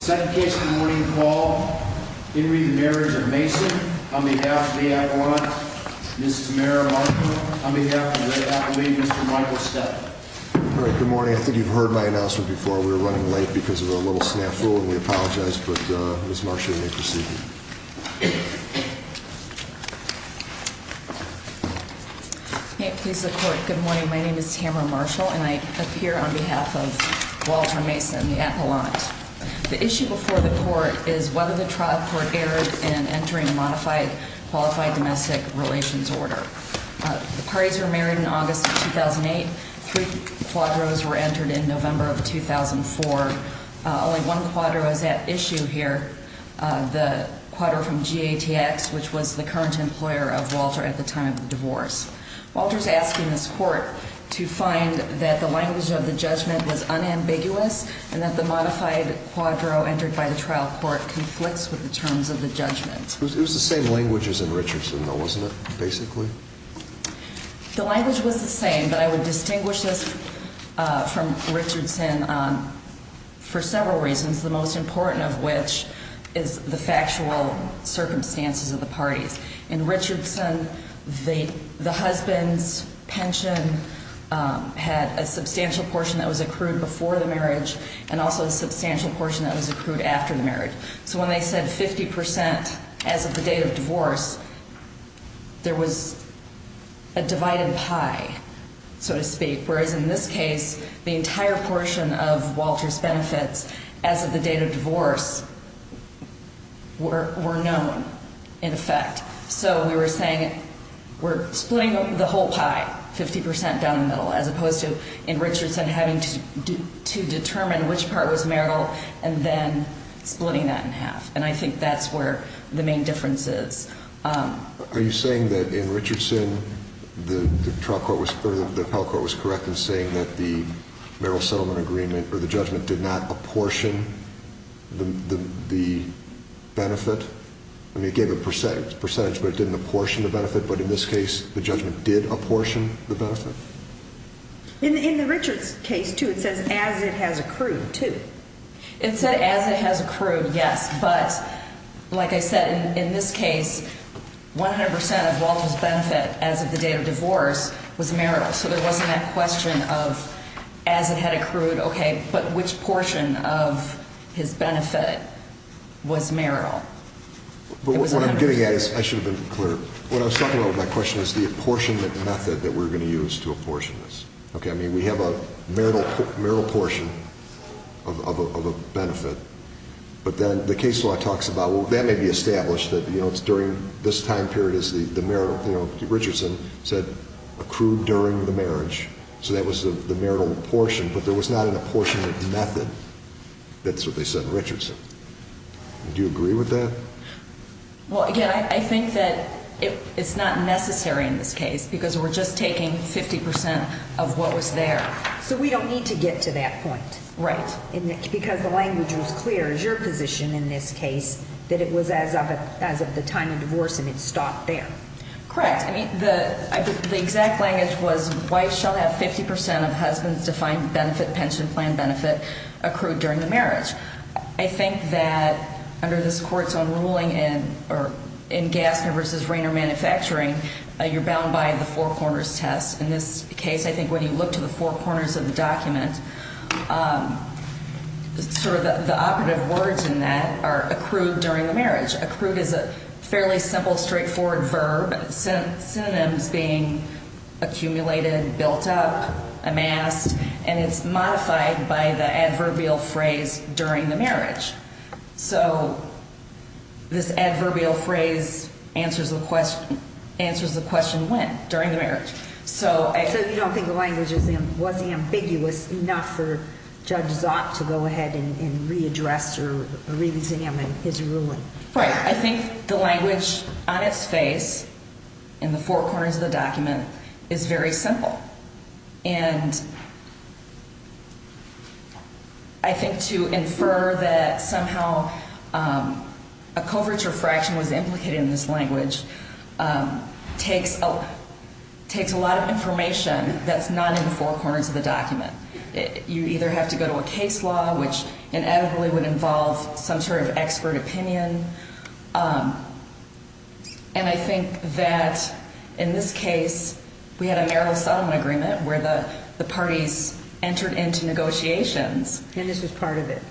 second case in the morning call Henry the Marriage of Mason on behalf of the Appalachians, Mrs. Mara Marker on behalf of the Appalachians, Mr. Michael Steadman. All right, good morning. I think you've heard my announcement before. We were running late because of a little snafu, and we apologize, but Ms. Marker, you may proceed. Good morning. My name is Tamara Marshall, and I appear on behalf of Walter Mason, the Appalachian. The issue before the court is whether the trial court erred in entering a modified qualified domestic relations order. The parties were married in August of 2008. Three quadros were entered in November of 2004. Only one quadro is at issue here, the quadro from GATX, which was the current employer of Walter at the time of the divorce. Walter's asking this court to find that the language of the judgment was unambiguous and that the modified quadro entered by the trial court conflicts with the terms of the judgment. It was the same language as in Richardson though, wasn't it, basically? The language was the same, but I would distinguish this from Richardson for several reasons, the most important of which is the factual circumstances of the parties. In Richardson, the husband's pension had a substantial portion that was accrued before the marriage and also a substantial portion that was accrued after the marriage. So when they said 50% as of the date of divorce, there was a divided pie, so to speak, whereas in this case, the entire portion of Walter's benefits as of the date of divorce were known, in effect. So we were saying we're splitting the whole pie, 50% down the middle, as opposed to in Richardson having to determine which part was marital and then splitting that in half. And I think that's where the main difference is. Are you saying that in Richardson, the trial court was – or the appellate court was correct in saying that the marital settlement agreement or the judgment did not apportion the benefit? I mean, it gave a percentage, but it didn't apportion the benefit. But in this case, the judgment did apportion the benefit? In the Richards case, too, it says as it has accrued, too. It said as it has accrued, yes. But like I said, in this case, 100% of Walter's benefit as of the date of divorce was marital. So there wasn't that question of as it had accrued, okay, but which portion of his benefit was marital. But what I'm getting at is – I should have been clearer. What I was talking about with my question is the apportionment method that we're going to use to apportion this. Okay, I mean, we have a marital portion of a benefit. But then the case law talks about, well, that may be established that it's during this time period as the marital – Richardson said accrued during the marriage, so that was the marital portion, but there was not an apportionment method. That's what they said in Richardson. Do you agree with that? Well, again, I think that it's not necessary in this case because we're just taking 50% of what was there. So we don't need to get to that point. Right. Because the language was clear as your position in this case that it was as of the time of divorce and it stopped there. Correct. I mean, the exact language was wife shall have 50% of husband's defined benefit, pension plan benefit accrued during the marriage. I think that under this court's own ruling in Gassner v. Rayner Manufacturing, you're bound by the four corners test. In this case, I think when you look to the four corners of the document, sort of the operative words in that are accrued during the marriage. Accrued is a fairly simple, straightforward verb, synonyms being accumulated, built up, amassed, and it's modified by the adverbial phrase during the marriage. So this adverbial phrase answers the question when? During the marriage. So you don't think the language was ambiguous enough for Judge Zopp to go ahead and readdress or reexamine his ruling? Right. I think the language on its face in the four corners of the document is very simple. And I think to infer that somehow a coverture fraction was implicated in this language takes a lot of information that's not in the four corners of the document. You either have to go to a case law, which inevitably would involve some sort of expert opinion. And I think that in this case, we had a marital settlement agreement where the parties entered into negotiations. And this was part of it.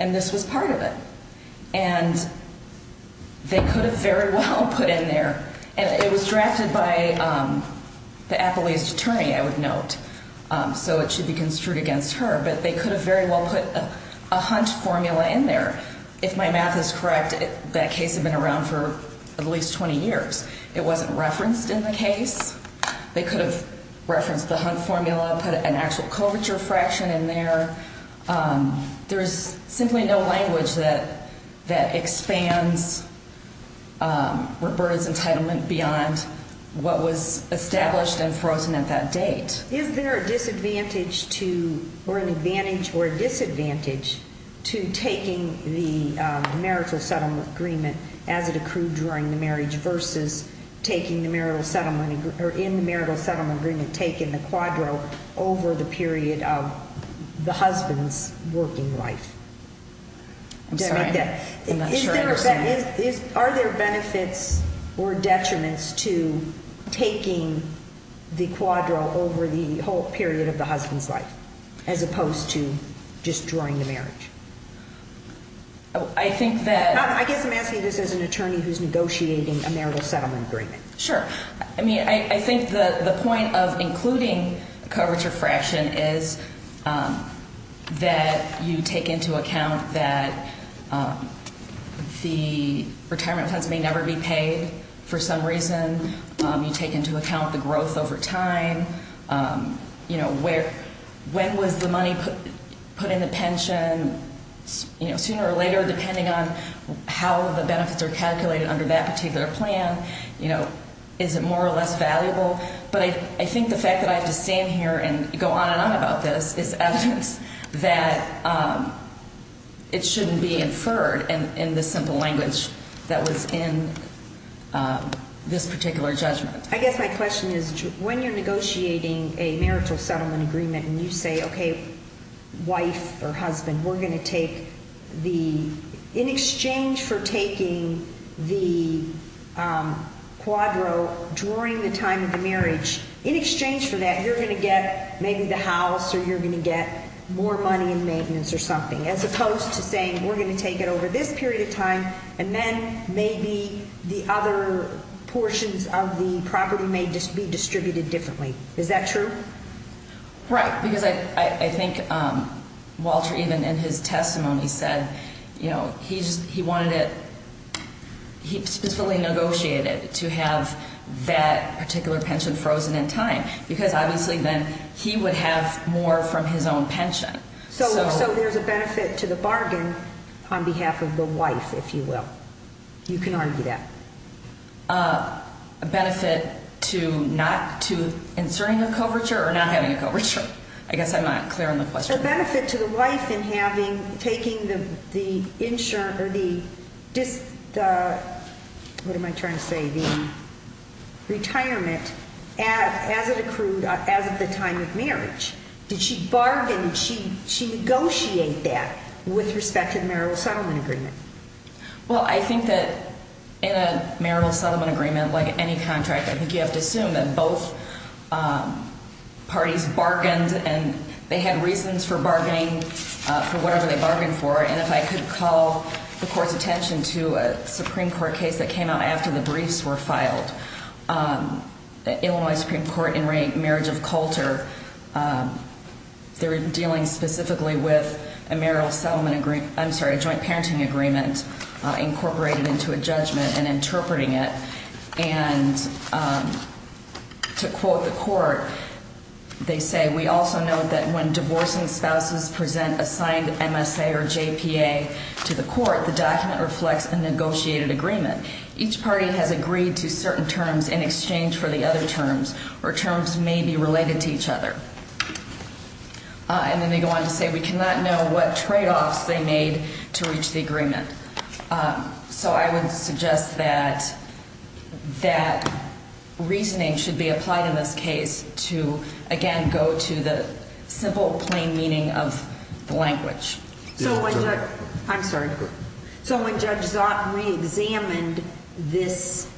And this was part of it. And they could have very well put in there, and it was drafted by the appellee's attorney, I would note, so it should be construed against her, but they could have very well put a hunt formula in there. If my math is correct, that case had been around for at least 20 years. It wasn't referenced in the case. They could have referenced the hunt formula, put an actual coverture fraction in there. There's simply no language that expands Roberta's entitlement beyond what was established and frozen at that date. Is there a disadvantage to or an advantage or a disadvantage to taking the marital settlement agreement as it accrued during the marriage versus taking the marital settlement or in the marital settlement agreement taking the quadro over the period of the husband's working life? I'm sorry, I'm not sure I understand. Are there benefits or detriments to taking the quadro over the whole period of the husband's life as opposed to just during the marriage? I guess I'm asking this as an attorney who's negotiating a marital settlement agreement. Sure. I mean, I think the point of including coverture fraction is that you take into account that the retirement funds may never be paid for some reason. You take into account the growth over time. You know, when was the money put in the pension, you know, sooner or later depending on how the benefits are calculated under that particular plan. You know, is it more or less valuable? But I think the fact that I have to stand here and go on and on about this is evidence that it shouldn't be inferred in the simple language that was in this particular judgment. I guess my question is when you're negotiating a marital settlement agreement and you say, okay, wife or husband, we're going to take the – in exchange for taking the quadro during the time of the marriage, in exchange for that you're going to get maybe the house or you're going to get more money in maintenance or something, as opposed to saying we're going to take it over this period of time and then maybe the other portions of the property may be distributed differently. Is that true? Right, because I think Walter even in his testimony said, you know, he wanted it – he specifically negotiated to have that particular pension frozen in time because obviously then he would have more from his own pension. So there's a benefit to the bargain on behalf of the wife, if you will. You can argue that. A benefit to not – to inserting a coverture or not having a coverture? I guess I'm not clear on the question. A benefit to the wife in having – taking the insurance or the – what am I trying to say? The retirement as it accrued as of the time of marriage. Did she bargain? Did she negotiate that with respect to the marital settlement agreement? Well, I think that in a marital settlement agreement, like any contract, I think you have to assume that both parties bargained and they had reasons for bargaining for whatever they bargained for. And if I could call the Court's attention to a Supreme Court case that came out after the briefs were filed, Illinois Supreme Court in marriage of Coulter, they were dealing specifically with a marital settlement agreement – I'm sorry, a joint parenting agreement incorporated into a judgment and interpreting it. And to quote the Court, they say, We also note that when divorcing spouses present a signed MSA or JPA to the Court, the document reflects a negotiated agreement. Each party has agreed to certain terms in exchange for the other terms, or terms may be related to each other. And then they go on to say, We cannot know what tradeoffs they made to reach the agreement. So I would suggest that that reasoning should be applied in this case to, again, go to the simple, plain meaning of the language. I'm sorry. So when Judge Zott reexamined this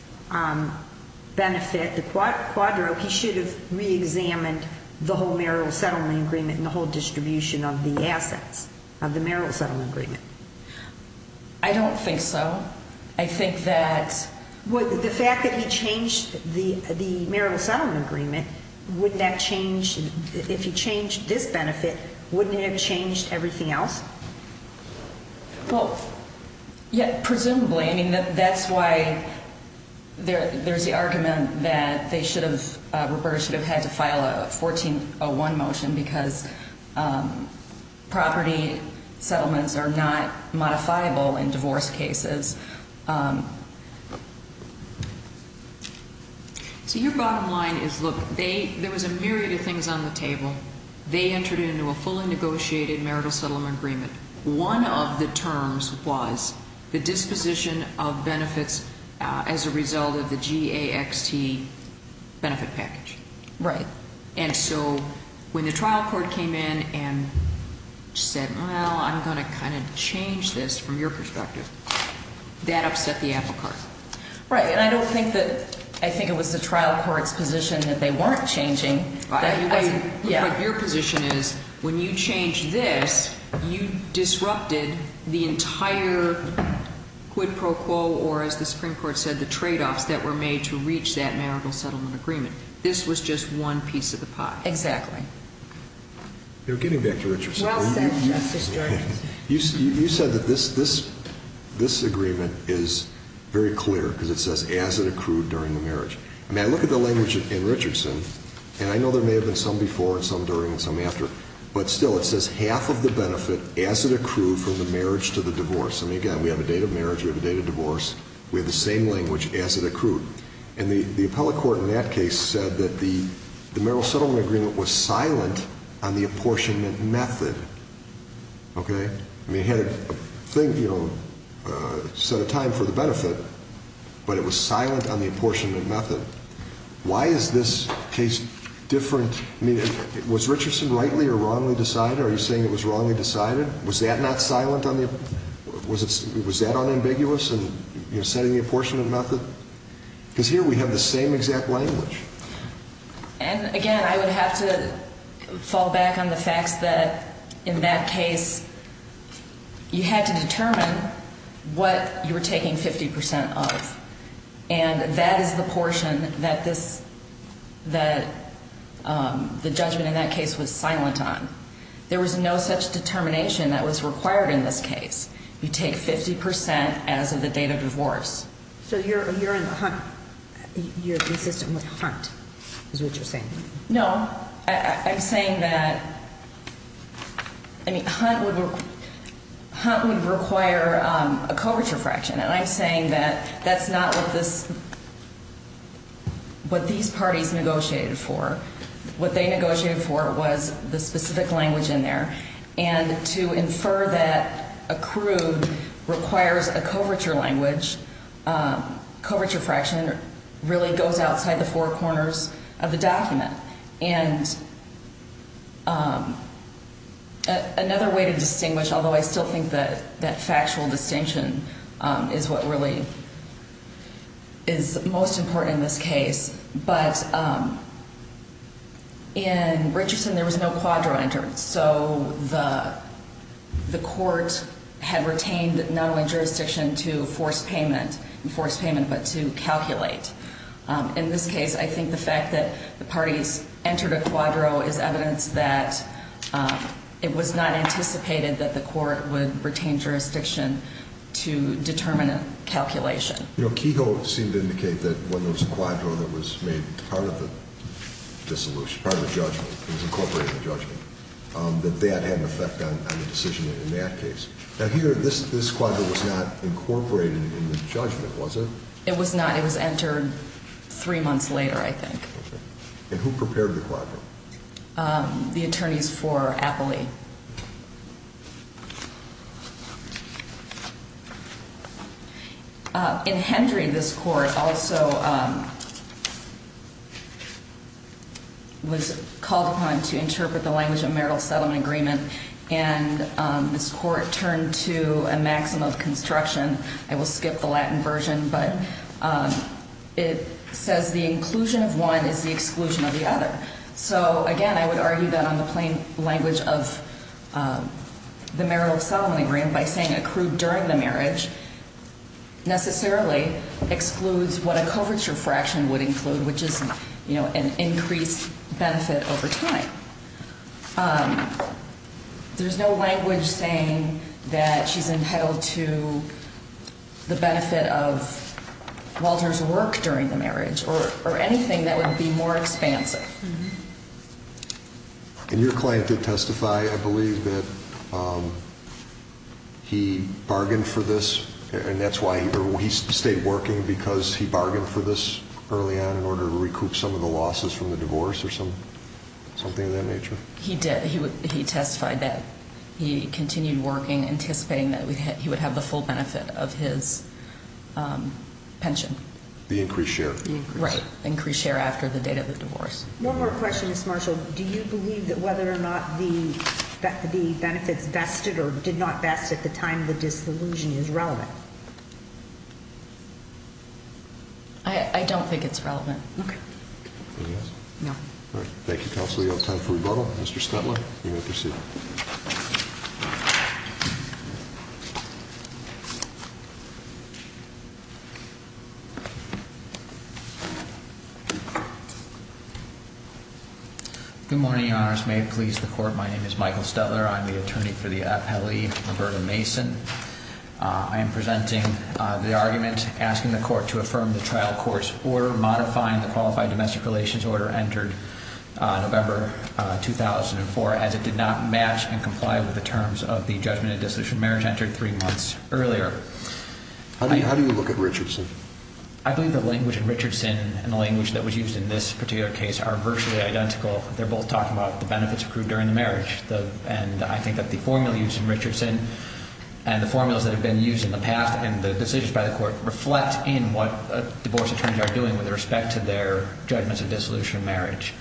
benefit, the quadro, he should have reexamined the whole marital settlement agreement and the whole distribution of the assets of the marital settlement agreement? I don't think so. I think that – The fact that he changed the marital settlement agreement, wouldn't that change – if he changed this benefit, wouldn't it have changed everything else? Well, yeah, presumably. I mean, that's why there's the argument that they should have – Roberta should have had to file a 1401 motion because property settlements are not modifiable in divorce cases. So your bottom line is, look, there was a myriad of things on the table. They entered into a fully negotiated marital settlement agreement. One of the terms was the disposition of benefits as a result of the GAXT benefit package. Right. And so when the trial court came in and said, Well, I'm going to kind of change this from your perspective, that upset the apple cart. Right. And I don't think that – I think it was the trial court's position that they weren't changing. But your position is, when you changed this, you disrupted the entire quid pro quo, or as the Supreme Court said, the tradeoffs that were made to reach that marital settlement agreement. This was just one piece of the pie. Exactly. Getting back to Richardson. Well said, Justice Jordan. You said that this agreement is very clear because it says as it accrued during the marriage. I mean, I look at the language in Richardson, and I know there may have been some before and some during and some after, but still it says half of the benefit as it accrued from the marriage to the divorce. I mean, again, we have a date of marriage, we have a date of divorce. We have the same language as it accrued. And the appellate court in that case said that the marital settlement agreement was silent on the apportionment method. Okay? I mean, it had a thing, you know, set a time for the benefit, but it was silent on the apportionment method. Why is this case different? I mean, was Richardson rightly or wrongly decided? Are you saying it was wrongly decided? Was that not silent on the apportionment method? Was that unambiguous in setting the apportionment method? Because here we have the same exact language. And, again, I would have to fall back on the facts that in that case you had to determine what you were taking 50% of, and that is the portion that the judgment in that case was silent on. There was no such determination that was required in this case. You take 50% as of the date of divorce. So you're in the hunt. You're consistent with hunt is what you're saying. No. I'm saying that hunt would require a coverture fraction. And I'm saying that that's not what these parties negotiated for. What they negotiated for was the specific language in there. And to infer that accrued requires a coverture language, coverture fraction, really goes outside the four corners of the document. And another way to distinguish, although I still think that that factual distinction is what really is most important in this case, but in Richardson there was no quadro entered. So the court had retained not only jurisdiction to force payment, but to calculate. In this case, I think the fact that the parties entered a quadro is evidence that it was not anticipated that the court would retain jurisdiction to determine a calculation. You know, Kehoe seemed to indicate that when there was a quadro that was made part of the dissolution, part of the judgment, it was incorporated in the judgment, that that had an effect on the decision in that case. Now, here, this quadro was not incorporated in the judgment, was it? It was not. It was entered three months later, I think. Okay. And who prepared the quadro? The attorneys for Appley. In Hendry, this court also was called upon to interpret the language of marital settlement agreement, and this court turned to a maxim of construction. I will skip the Latin version, but it says the inclusion of one is the exclusion of the other. So, again, I would argue that on the plain language of the marital settlement agreement, by saying accrued during the marriage necessarily excludes what a coverture fraction would include, which is, you know, an increased benefit over time. There's no language saying that she's entitled to the benefit of Walter's work during the marriage or anything that would be more expansive. And your client did testify, I believe, that he bargained for this, and that's why he stayed working, because he bargained for this early on in order to recoup some of the losses from the divorce or something of that nature? He did. He testified that he continued working, anticipating that he would have the full benefit of his pension. The increased share. Right, increased share after the date of the divorce. One more question, Ms. Marshall. Do you believe that whether or not the benefits vested or did not vest at the time of the disillusion is relevant? I don't think it's relevant. Okay. It is? No. All right. Thank you, counsel. We have time for rebuttal. Mr. Stutler, you may proceed. Good morning, Your Honors. May it please the Court, my name is Michael Stutler. I'm the attorney for the appellee, Roberta Mason. I am presenting the argument asking the Court to affirm the trial court's order modifying the qualified domestic relations order entered November 2004, as it did not match and comply with the terms of the judgment of disillusioned marriage entered three months earlier. How do you look at Richardson? I believe the language in Richardson and the language that was used in this particular case are virtually identical. They're both talking about the benefits accrued during the marriage. And I think that the formula used in Richardson and the formulas that have been used in the past and the decisions by the Court reflect in what divorce attorneys are doing with respect to their judgments of disillusioned marriage.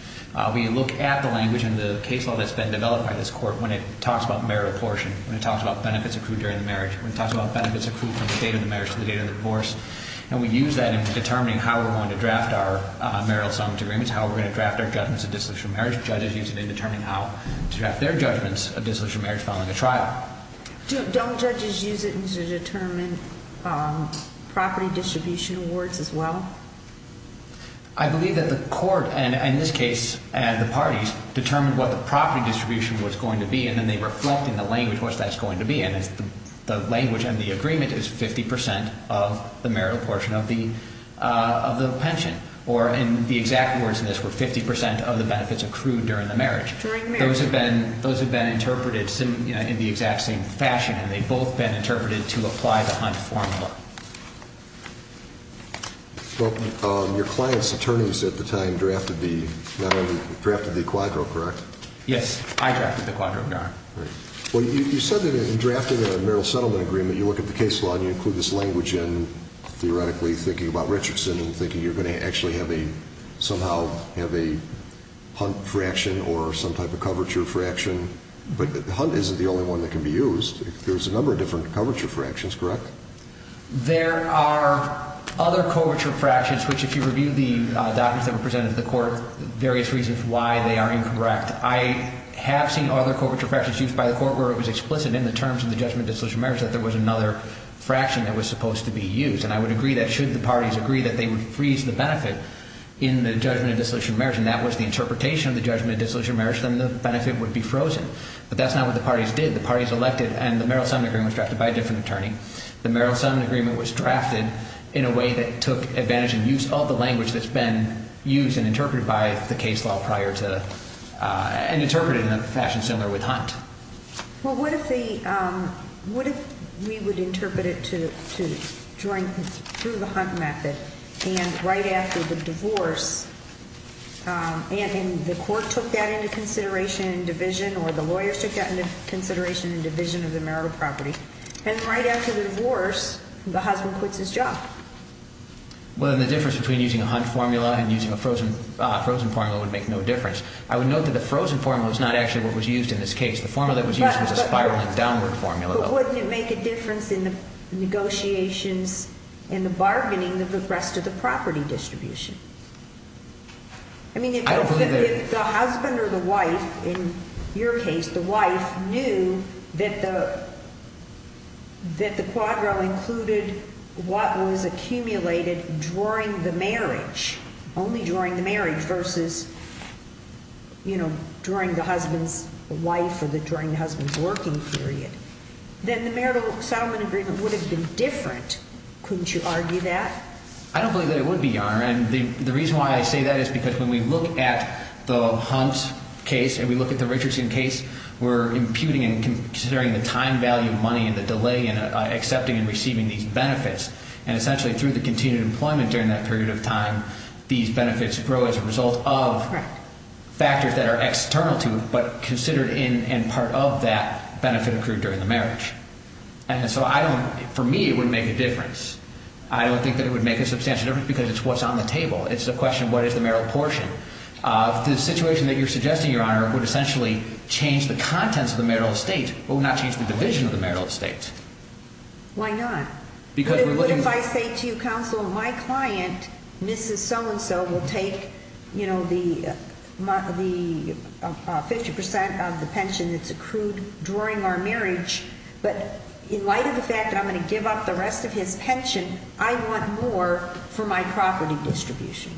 We look at the language and the case law that's been developed by this Court when it talks about marriage abortion, when it talks about benefits accrued during the marriage, when it talks about benefits accrued from the date of the marriage to the date of the divorce. And we use that in determining how we're going to draft our marital assignment agreements, how we're going to draft our judgments of disillusioned marriage. Judges use it in determining how to draft their judgments of disillusioned marriage following a trial. Don't judges use it to determine property distribution awards as well? I believe that the Court, and in this case the parties, determined what the property distribution was going to be, and then they reflect in the language what that's going to be. And the language on the agreement is 50% of the marital portion of the pension, or in the exact words in this were 50% of the benefits accrued during the marriage. During marriage. Those have been interpreted in the exact same fashion, and they've both been interpreted to apply the Hunt formula. Your client's attorneys at the time drafted the, not only, drafted the quadro, correct? Yes, I drafted the quadro, Your Honor. Well, you said that in drafting a marital settlement agreement, you look at the case law and you include this language in theoretically thinking about Richardson and thinking you're going to actually somehow have a Hunt fraction or some type of coverture fraction. But Hunt isn't the only one that can be used. There's a number of different coverture fractions, correct? There are other coverture fractions, which if you review the documents that were presented to the Court, for various reasons why they are incorrect, I have seen other coverture fractions used by the Court where it was explicit in the terms of the judgment of dissolution of marriage that there was another fraction that was supposed to be used. And I would agree that should the parties agree that they would freeze the benefit in the judgment of dissolution of marriage and that was the interpretation of the judgment of dissolution of marriage, then the benefit would be frozen. But that's not what the parties did. The parties elected and the marital settlement agreement was drafted by a different attorney. The marital settlement agreement was drafted in a way that took advantage and used all the language that's been used and interpreted by the case law prior to and interpreted in a fashion similar with Hunt. Well, what if we would interpret it to join through the Hunt method and right after the divorce and the Court took that into consideration and division or the lawyers took that into consideration and division of the marital property, and right after the divorce the husband quits his job? Well, then the difference between using a Hunt formula and using a frozen formula would make no difference. I would note that the frozen formula is not actually what was used in this case. The formula that was used was a spiraling downward formula. But wouldn't it make a difference in the negotiations and the bargaining of the rest of the property distribution? I don't believe that it would. If the husband or the wife, in your case the wife, knew that the quadro included what was accumulated during the marriage, only during the marriage versus during the husband's wife or during the husband's working period, then the marital settlement agreement would have been different. Couldn't you argue that? And the reason why I say that is because when we look at the Hunt case and we look at the Richardson case, we're imputing and considering the time value of money and the delay in accepting and receiving these benefits. And essentially through the continued employment during that period of time, these benefits grow as a result of factors that are external to it, but considered in and part of that benefit accrued during the marriage. And so for me it would make a difference. I don't think that it would make a substantial difference because it's what's on the table. It's a question of what is the marital portion. The situation that you're suggesting, Your Honor, would essentially change the contents of the marital estate, but would not change the division of the marital estate. Why not? What if I say to you, Counsel, my client, Mrs. So-and-so, will take, you know, the 50% of the pension that's accrued during our marriage, but in light of the fact that I'm going to give up the rest of his pension, I want more for my property distribution.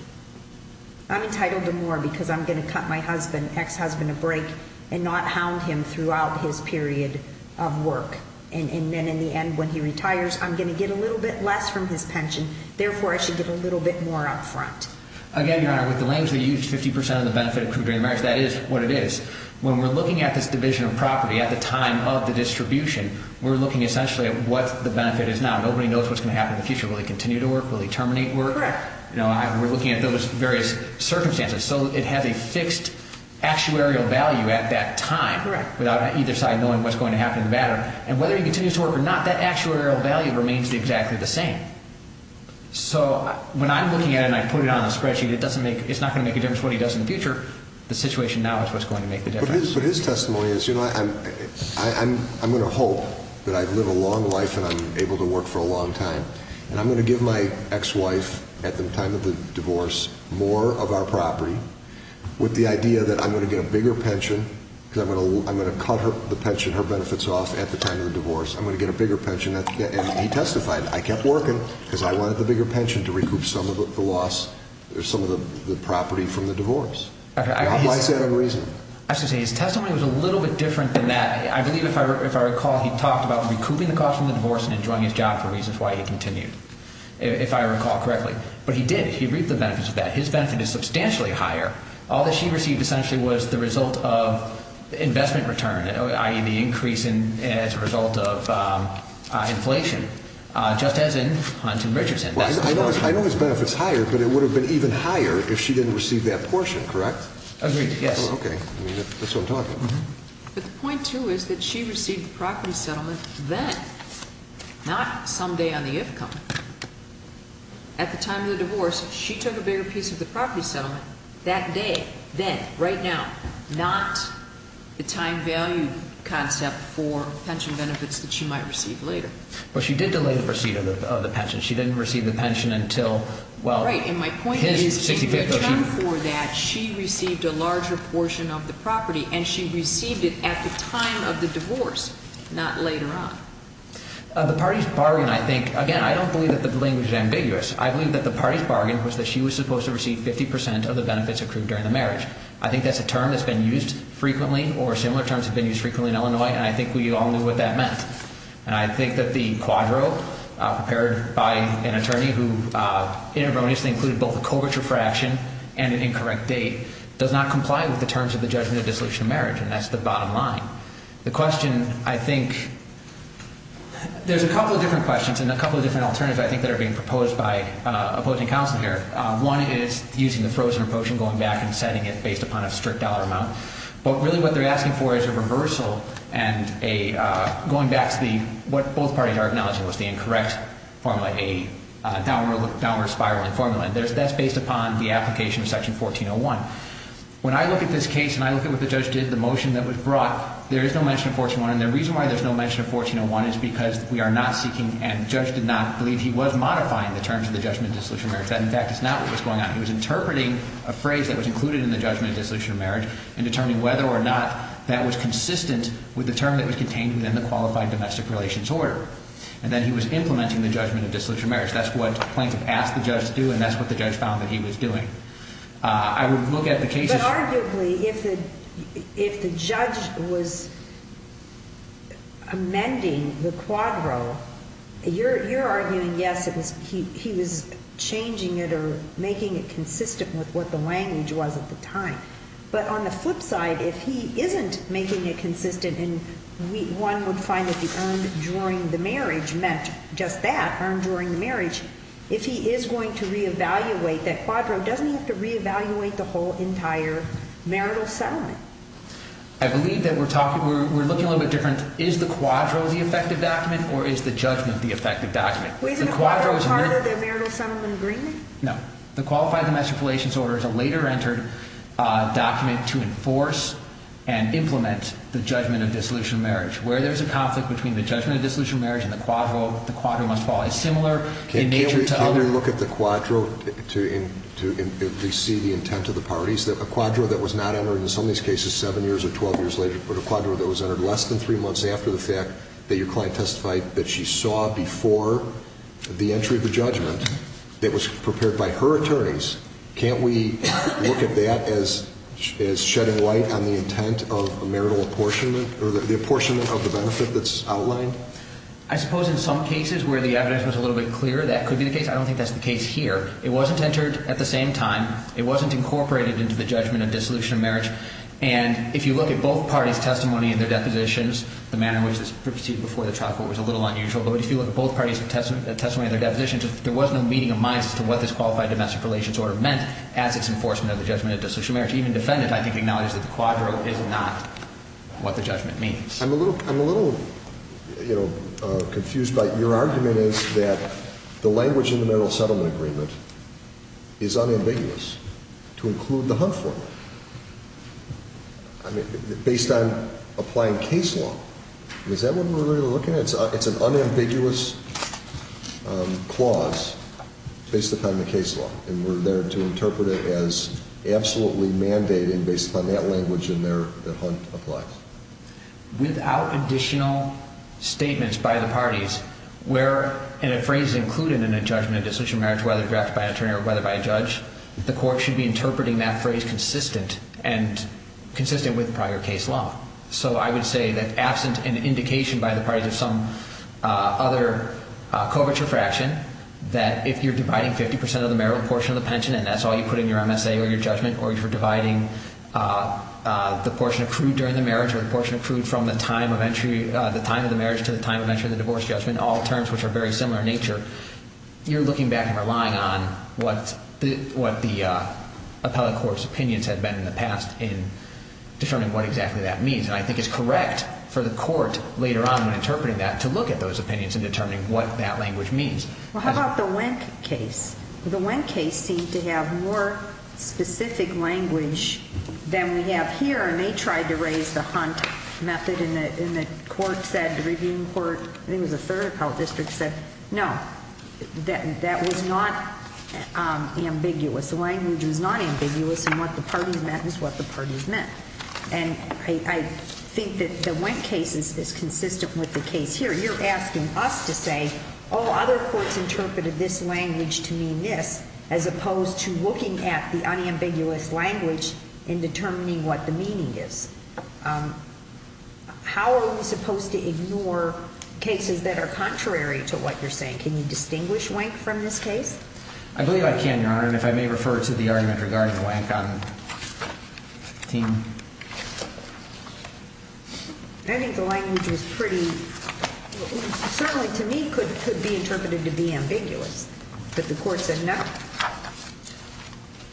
I'm entitled to more because I'm going to cut my ex-husband a break and not hound him throughout his period of work. And then in the end when he retires, I'm going to get a little bit less from his pension. Therefore, I should get a little bit more up front. Again, Your Honor, with the language that you used, 50% of the benefit accrued during the marriage, that is what it is. When we're looking at this division of property at the time of the distribution, we're looking essentially at what the benefit is now. Nobody knows what's going to happen in the future. Will he continue to work? Will he terminate work? Correct. We're looking at those various circumstances. So it has a fixed actuarial value at that time without either side knowing what's going to happen in the matter. And whether he continues to work or not, that actuarial value remains exactly the same. So when I'm looking at it and I put it on the spreadsheet, it's not going to make a difference what he does in the future. The situation now is what's going to make the difference. But his testimony is, you know, I'm going to hope that I live a long life and I'm able to work for a long time. And I'm going to give my ex-wife at the time of the divorce more of our property with the idea that I'm going to get a bigger pension because I'm going to cut the pension, her benefits off at the time of the divorce. I'm going to get a bigger pension. And he testified, I kept working because I wanted the bigger pension to recoup some of the loss, some of the property from the divorce. Why is that unreasonable? I have to say his testimony was a little bit different than that. I believe if I recall he talked about recouping the cost from the divorce and enjoying his job for reasons why he continued, if I recall correctly. But he did, he reaped the benefits of that. His benefit is substantially higher. All that she received essentially was the result of investment return, i.e., the increase as a result of inflation, just as in Hunt and Richardson. I know his benefit is higher, but it would have been even higher if she didn't receive that portion, correct? Agreed, yes. Okay. That's what I'm talking about. But the point, too, is that she received the property settlement then, not someday on the if-come. At the time of the divorce, she took a bigger piece of the property settlement that day, then, right now, not the time-valued concept for pension benefits that she might receive later. But she did delay the receipt of the pension. She didn't receive the pension until, well, his 65th. Right, and my point is in return for that, she received a larger portion of the property, and she received it at the time of the divorce, not later on. The party's bargain, I think, again, I don't believe that the language is ambiguous. I believe that the party's bargain was that she was supposed to receive 50 percent of the benefits accrued during the marriage. I think that's a term that's been used frequently or similar terms have been used frequently in Illinois, and I think we all knew what that meant. And I think that the quadro prepared by an attorney who inadvertently included both a covert refraction and an incorrect date does not comply with the terms of the judgment of dissolution of marriage, and that's the bottom line. The question, I think, there's a couple of different questions and a couple of different alternatives, I think, that are being proposed by opposing counsel here. One is using the frozen or potion going back and setting it based upon a strict dollar amount. But really what they're asking for is a reversal and a going back to what both parties are acknowledging was the incorrect formula, a downward spiral in formula. And that's based upon the application of Section 1401. When I look at this case and I look at what the judge did, the motion that was brought, there is no mention of 1401. And the reason why there's no mention of 1401 is because we are not seeking and the judge did not believe he was modifying the terms of the judgment of dissolution of marriage. That, in fact, is not what was going on. He was interpreting a phrase that was included in the judgment of dissolution of marriage and determining whether or not that was consistent with the term that was contained within the qualified domestic relations order. And then he was implementing the judgment of dissolution of marriage. That's what plaintiff asked the judge to do, and that's what the judge found that he was doing. I would look at the case. But arguably, if the judge was amending the quadro, you're arguing, yes, he was changing it or making it consistent with what the language was at the time. But on the flip side, if he isn't making it consistent and one would find that the earned during the marriage meant just that, earned during the marriage, if he is going to reevaluate that quadro, doesn't he have to reevaluate the whole entire marital settlement? I believe that we're looking a little bit different. Is the quadro the effective document or is the judgment the effective document? Was the quadro part of the marital settlement agreement? No. The qualified domestic relations order is a later entered document to enforce and implement the judgment of dissolution of marriage. Where there's a conflict between the judgment of dissolution of marriage and the quadro, the quadro must fall. It's similar in nature to other… Can you look at the quadro to at least see the intent of the parties? A quadro that was not entered in some of these cases 7 years or 12 years later, but a quadro that was entered less than 3 months after the fact that your client testified that she saw before the entry of the judgment, that was prepared by her attorneys, can't we look at that as shedding light on the intent of a marital apportionment or the apportionment of the benefit that's outlined? I suppose in some cases where the evidence was a little bit clearer, that could be the case. I don't think that's the case here. It wasn't entered at the same time. It wasn't incorporated into the judgment of dissolution of marriage. And if you look at both parties' testimony in their depositions, the manner in which this proceeded before the trial court was a little unusual. But if you look at both parties' testimony in their depositions, there was no meeting of minds as to what this qualified domestic relations order meant as its enforcement of the judgment of dissolution of marriage. Even the defendant, I think, acknowledges that the quadro is not what the judgment means. I'm a little confused by your argument is that the language in the marital settlement agreement is unambiguous to include the Hunt formula based on applying case law. Is that what we're really looking at? It's an unambiguous clause based upon the case law, and we're there to interpret it as absolutely mandating based upon that language in there that Hunt applies. Without additional statements by the parties where in a phrase included in a judgment of dissolution of marriage, whether directed by an attorney or whether by a judge, the court should be interpreting that phrase consistent and consistent with prior case law. So I would say that absent an indication by the parties of some other coverture fraction that if you're dividing 50% of the marital portion of the pension, and that's all you put in your MSA or your judgment, or if you're dividing the portion accrued during the marriage or the portion accrued from the time of the marriage to the time of entry of the divorce judgment, all terms which are very similar in nature, you're looking back and relying on what the appellate court's opinions have been in the past in determining what exactly that means. And I think it's correct for the court later on when interpreting that to look at those opinions and determine what that language means. Well, how about the Wink case? The Wink case seemed to have more specific language than we have here, and they tried to raise the Hunt method. And the court said, the reviewing court, I think it was the third appellate district said, no, that was not ambiguous. The language was not ambiguous, and what the parties meant is what the parties meant. And I think that the Wink case is consistent with the case here. You're asking us to say, oh, other courts interpreted this language to mean this, as opposed to looking at the unambiguous language and determining what the meaning is. How are we supposed to ignore cases that are contrary to what you're saying? Can you distinguish Wink from this case? I believe I can, Your Honor, and if I may refer to the argument regarding the Wink on team. I think the language was pretty – certainly to me could be interpreted to be ambiguous, but the court said no.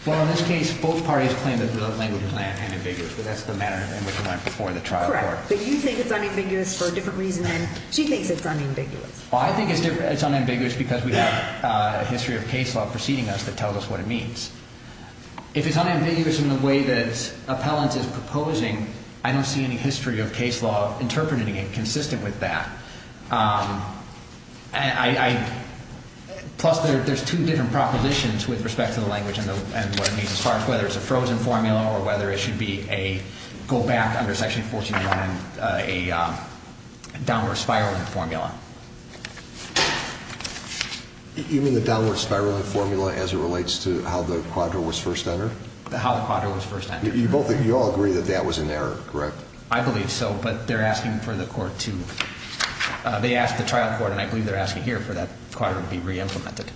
Well, in this case, both parties claimed that the language was unambiguous, but that's the manner in which it went before the trial court. Correct, but you think it's unambiguous for a different reason than she thinks it's unambiguous. Well, I think it's unambiguous because we have a history of case law preceding us that tells us what it means. If it's unambiguous in the way that appellant is proposing, I don't see any history of case law interpreting it consistent with that. And I – plus there's two different propositions with respect to the language and what it means. As far as whether it's a frozen formula or whether it should be a – go back under Section 141 and a downward spiraling formula. You mean the downward spiraling formula as it relates to how the quadro was first entered? How the quadro was first entered. You both – you all agree that that was an error, correct? I believe so, but they're asking for the court to – they asked the trial court, and I believe they're asking here for that quadro to be re-implemented.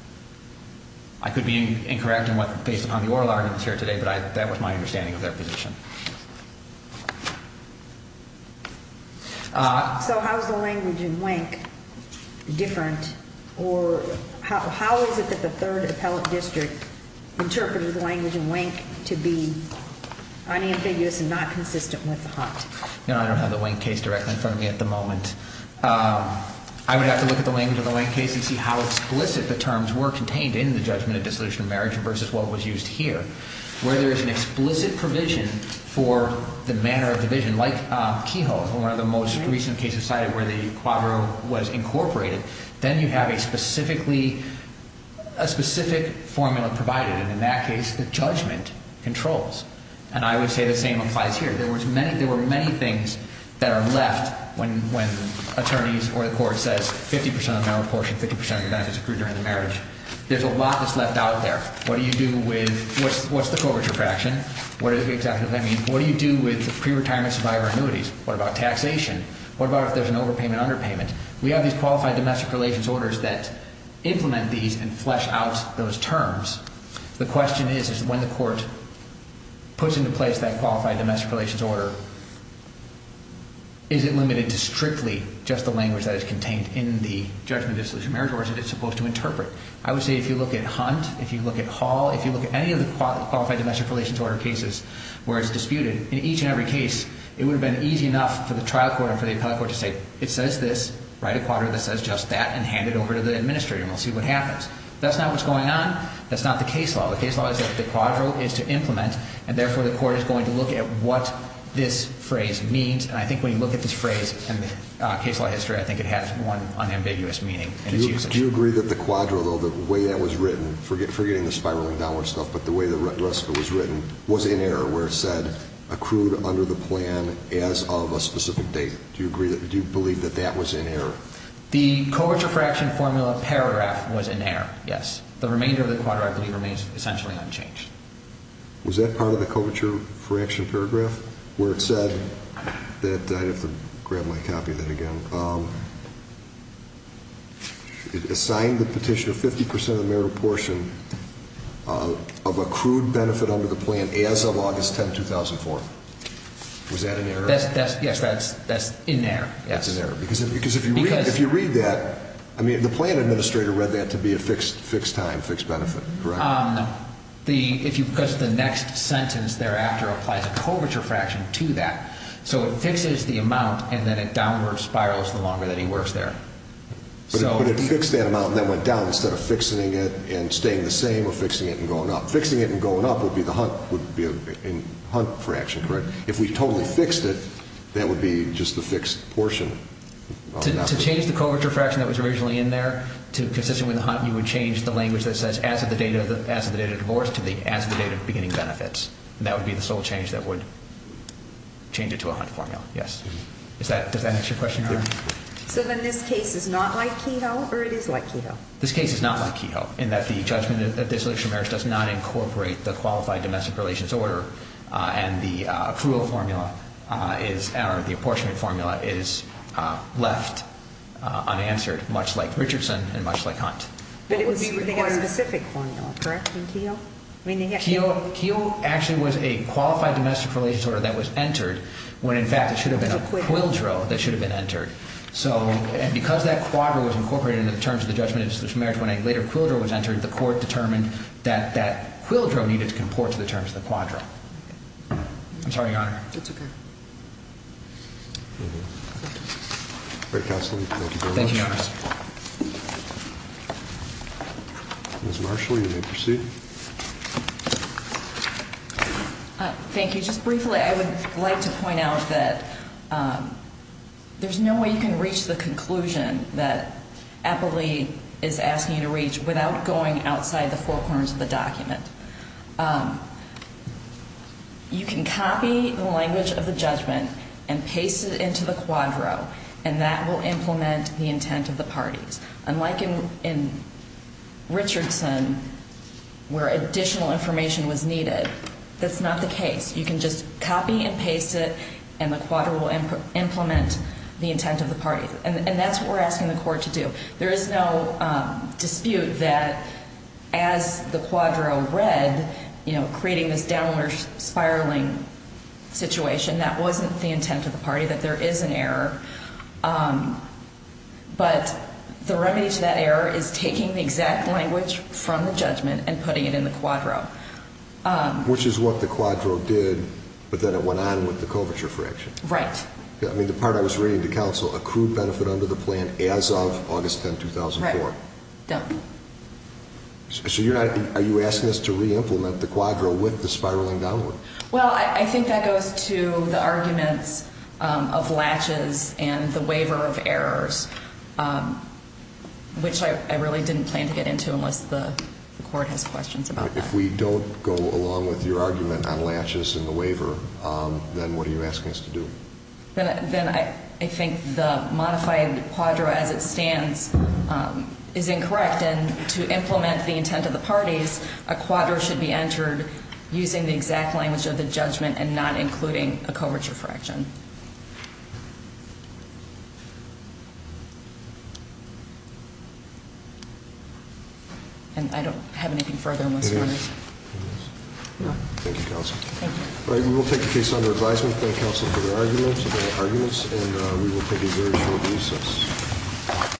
I could be incorrect in what – based upon the oral arguments here today, but that was my understanding of their position. So how is the language in Wink different, or how is it that the Third Appellate District interpreted the language in Wink to be unambiguous and not consistent with the HUD? You know, I don't have the Wink case directly in front of me at the moment. I would have to look at the language in the Wink case and see how explicit the terms were contained in the judgment of dissolution of marriage versus what was used here. Where there is an explicit provision for the manner of division, like Kehoe, one of the most recent cases cited where the quadro was incorporated, then you have a specifically – a specific formula provided, and in that case, the judgment controls. And I would say the same applies here. There was many – there were many things that are left when attorneys or the court says 50 percent of the marital portion, 50 percent of the benefits accrued during the marriage. There's a lot that's left out there. What do you do with – what's the coverture fraction? What exactly does that mean? What do you do with the pre-retirement survivor annuities? What about taxation? What about if there's an overpayment, underpayment? We have these qualified domestic relations orders that implement these and flesh out those terms. The question is, is when the court puts into place that qualified domestic relations order, is it limited to strictly just the language that is contained in the judgment of dissolution of marriage, or is it supposed to interpret? I would say if you look at Hunt, if you look at Hall, if you look at any of the qualified domestic relations order cases where it's disputed, in each and every case, it would have been easy enough for the trial court and for the appellate court to say, it says this, write a quadro that says just that, and hand it over to the administrator, and we'll see what happens. That's not what's going on. That's not the case law. The case law is that the quadro is to implement, and therefore the court is going to look at what this phrase means. And I think when you look at this phrase in case law history, I think it has one unambiguous meaning in its usage. Do you agree that the quadro, though, the way that was written, forgetting the spiraling downward stuff, but the way the rest of it was written was in error where it said accrued under the plan as of a specific date. Do you believe that that was in error? The coverture fraction formula paragraph was in error, yes. The remainder of the quadro equity remains essentially unchanged. Was that part of the coverture fraction paragraph where it said that I'd have to grab my copy of that again? So it assigned the petitioner 50% of the merit portion of accrued benefit under the plan as of August 10, 2004. Was that in error? Yes, that's in error, yes. That's in error. Because if you read that, I mean, the plan administrator read that to be a fixed time, fixed benefit, correct? No. Because the next sentence thereafter applies a coverture fraction to that. So it fixes the amount and then it downward spirals the longer that he works there. But it fixed that amount and then went down instead of fixing it and staying the same or fixing it and going up. Fixing it and going up would be the hunt fraction, correct? If we totally fixed it, that would be just the fixed portion. To change the coverture fraction that was originally in there to consistent with the hunt, you would change the language that says as of the date of divorce to the as of the date of beginning benefits. And that would be the sole change that would change it to a hunt formula, yes. Does that answer your question, Your Honor? So then this case is not like Kehoe or it is like Kehoe? This case is not like Kehoe in that the judgment of desolation of merits does not incorporate the qualified domestic relations order and the cruel formula or the apportionment formula is left unanswered, much like Richardson and much like Hunt. But it would be a specific formula, correct, in Kehoe? Kehoe actually was a qualified domestic relations order that was entered when in fact it should have been a quildro that should have been entered. So because that quadro was incorporated into the terms of the judgment of desolation of merits, when a later quildro was entered, the court determined that that quildro needed to comport to the terms of the quadro. I'm sorry, Your Honor. That's okay. Great counseling. Thank you very much. Thank you, Your Honor. Ms. Marshall, you may proceed. Thank you. Just briefly, I would like to point out that there's no way you can reach the conclusion that Applee is asking you to reach without going outside the four corners of the document. You can copy the language of the judgment and paste it into the quadro, and that will implement the intent of the parties. Unlike in Richardson, where additional information was needed, that's not the case. You can just copy and paste it, and the quadro will implement the intent of the parties. And that's what we're asking the court to do. There is no dispute that as the quadro read, you know, creating this downward spiraling situation, that wasn't the intent of the party, that there is an error. But the remedy to that error is taking the exact language from the judgment and putting it in the quadro. Which is what the quadro did, but then it went on with the coverture fraction. Right. I mean, the part I was reading to counsel, accrued benefit under the plan as of August 10, 2004. Right. So you're not, are you asking us to reimplement the quadro with the spiraling downward? Well, I think that goes to the arguments of latches and the waiver of errors, which I really didn't plan to get into unless the court has questions about that. If we don't go along with your argument on latches and the waiver, then what are you asking us to do? Then I think the modified quadro as it stands is incorrect. And to implement the intent of the parties, a quadro should be entered using the exact language of the judgment and not including a coverture fraction. And I don't have anything further. No. Thank you, counsel. Thank you. All right. We will take your case under advisement. Thank counsel for the arguments. And we will take a very short recess.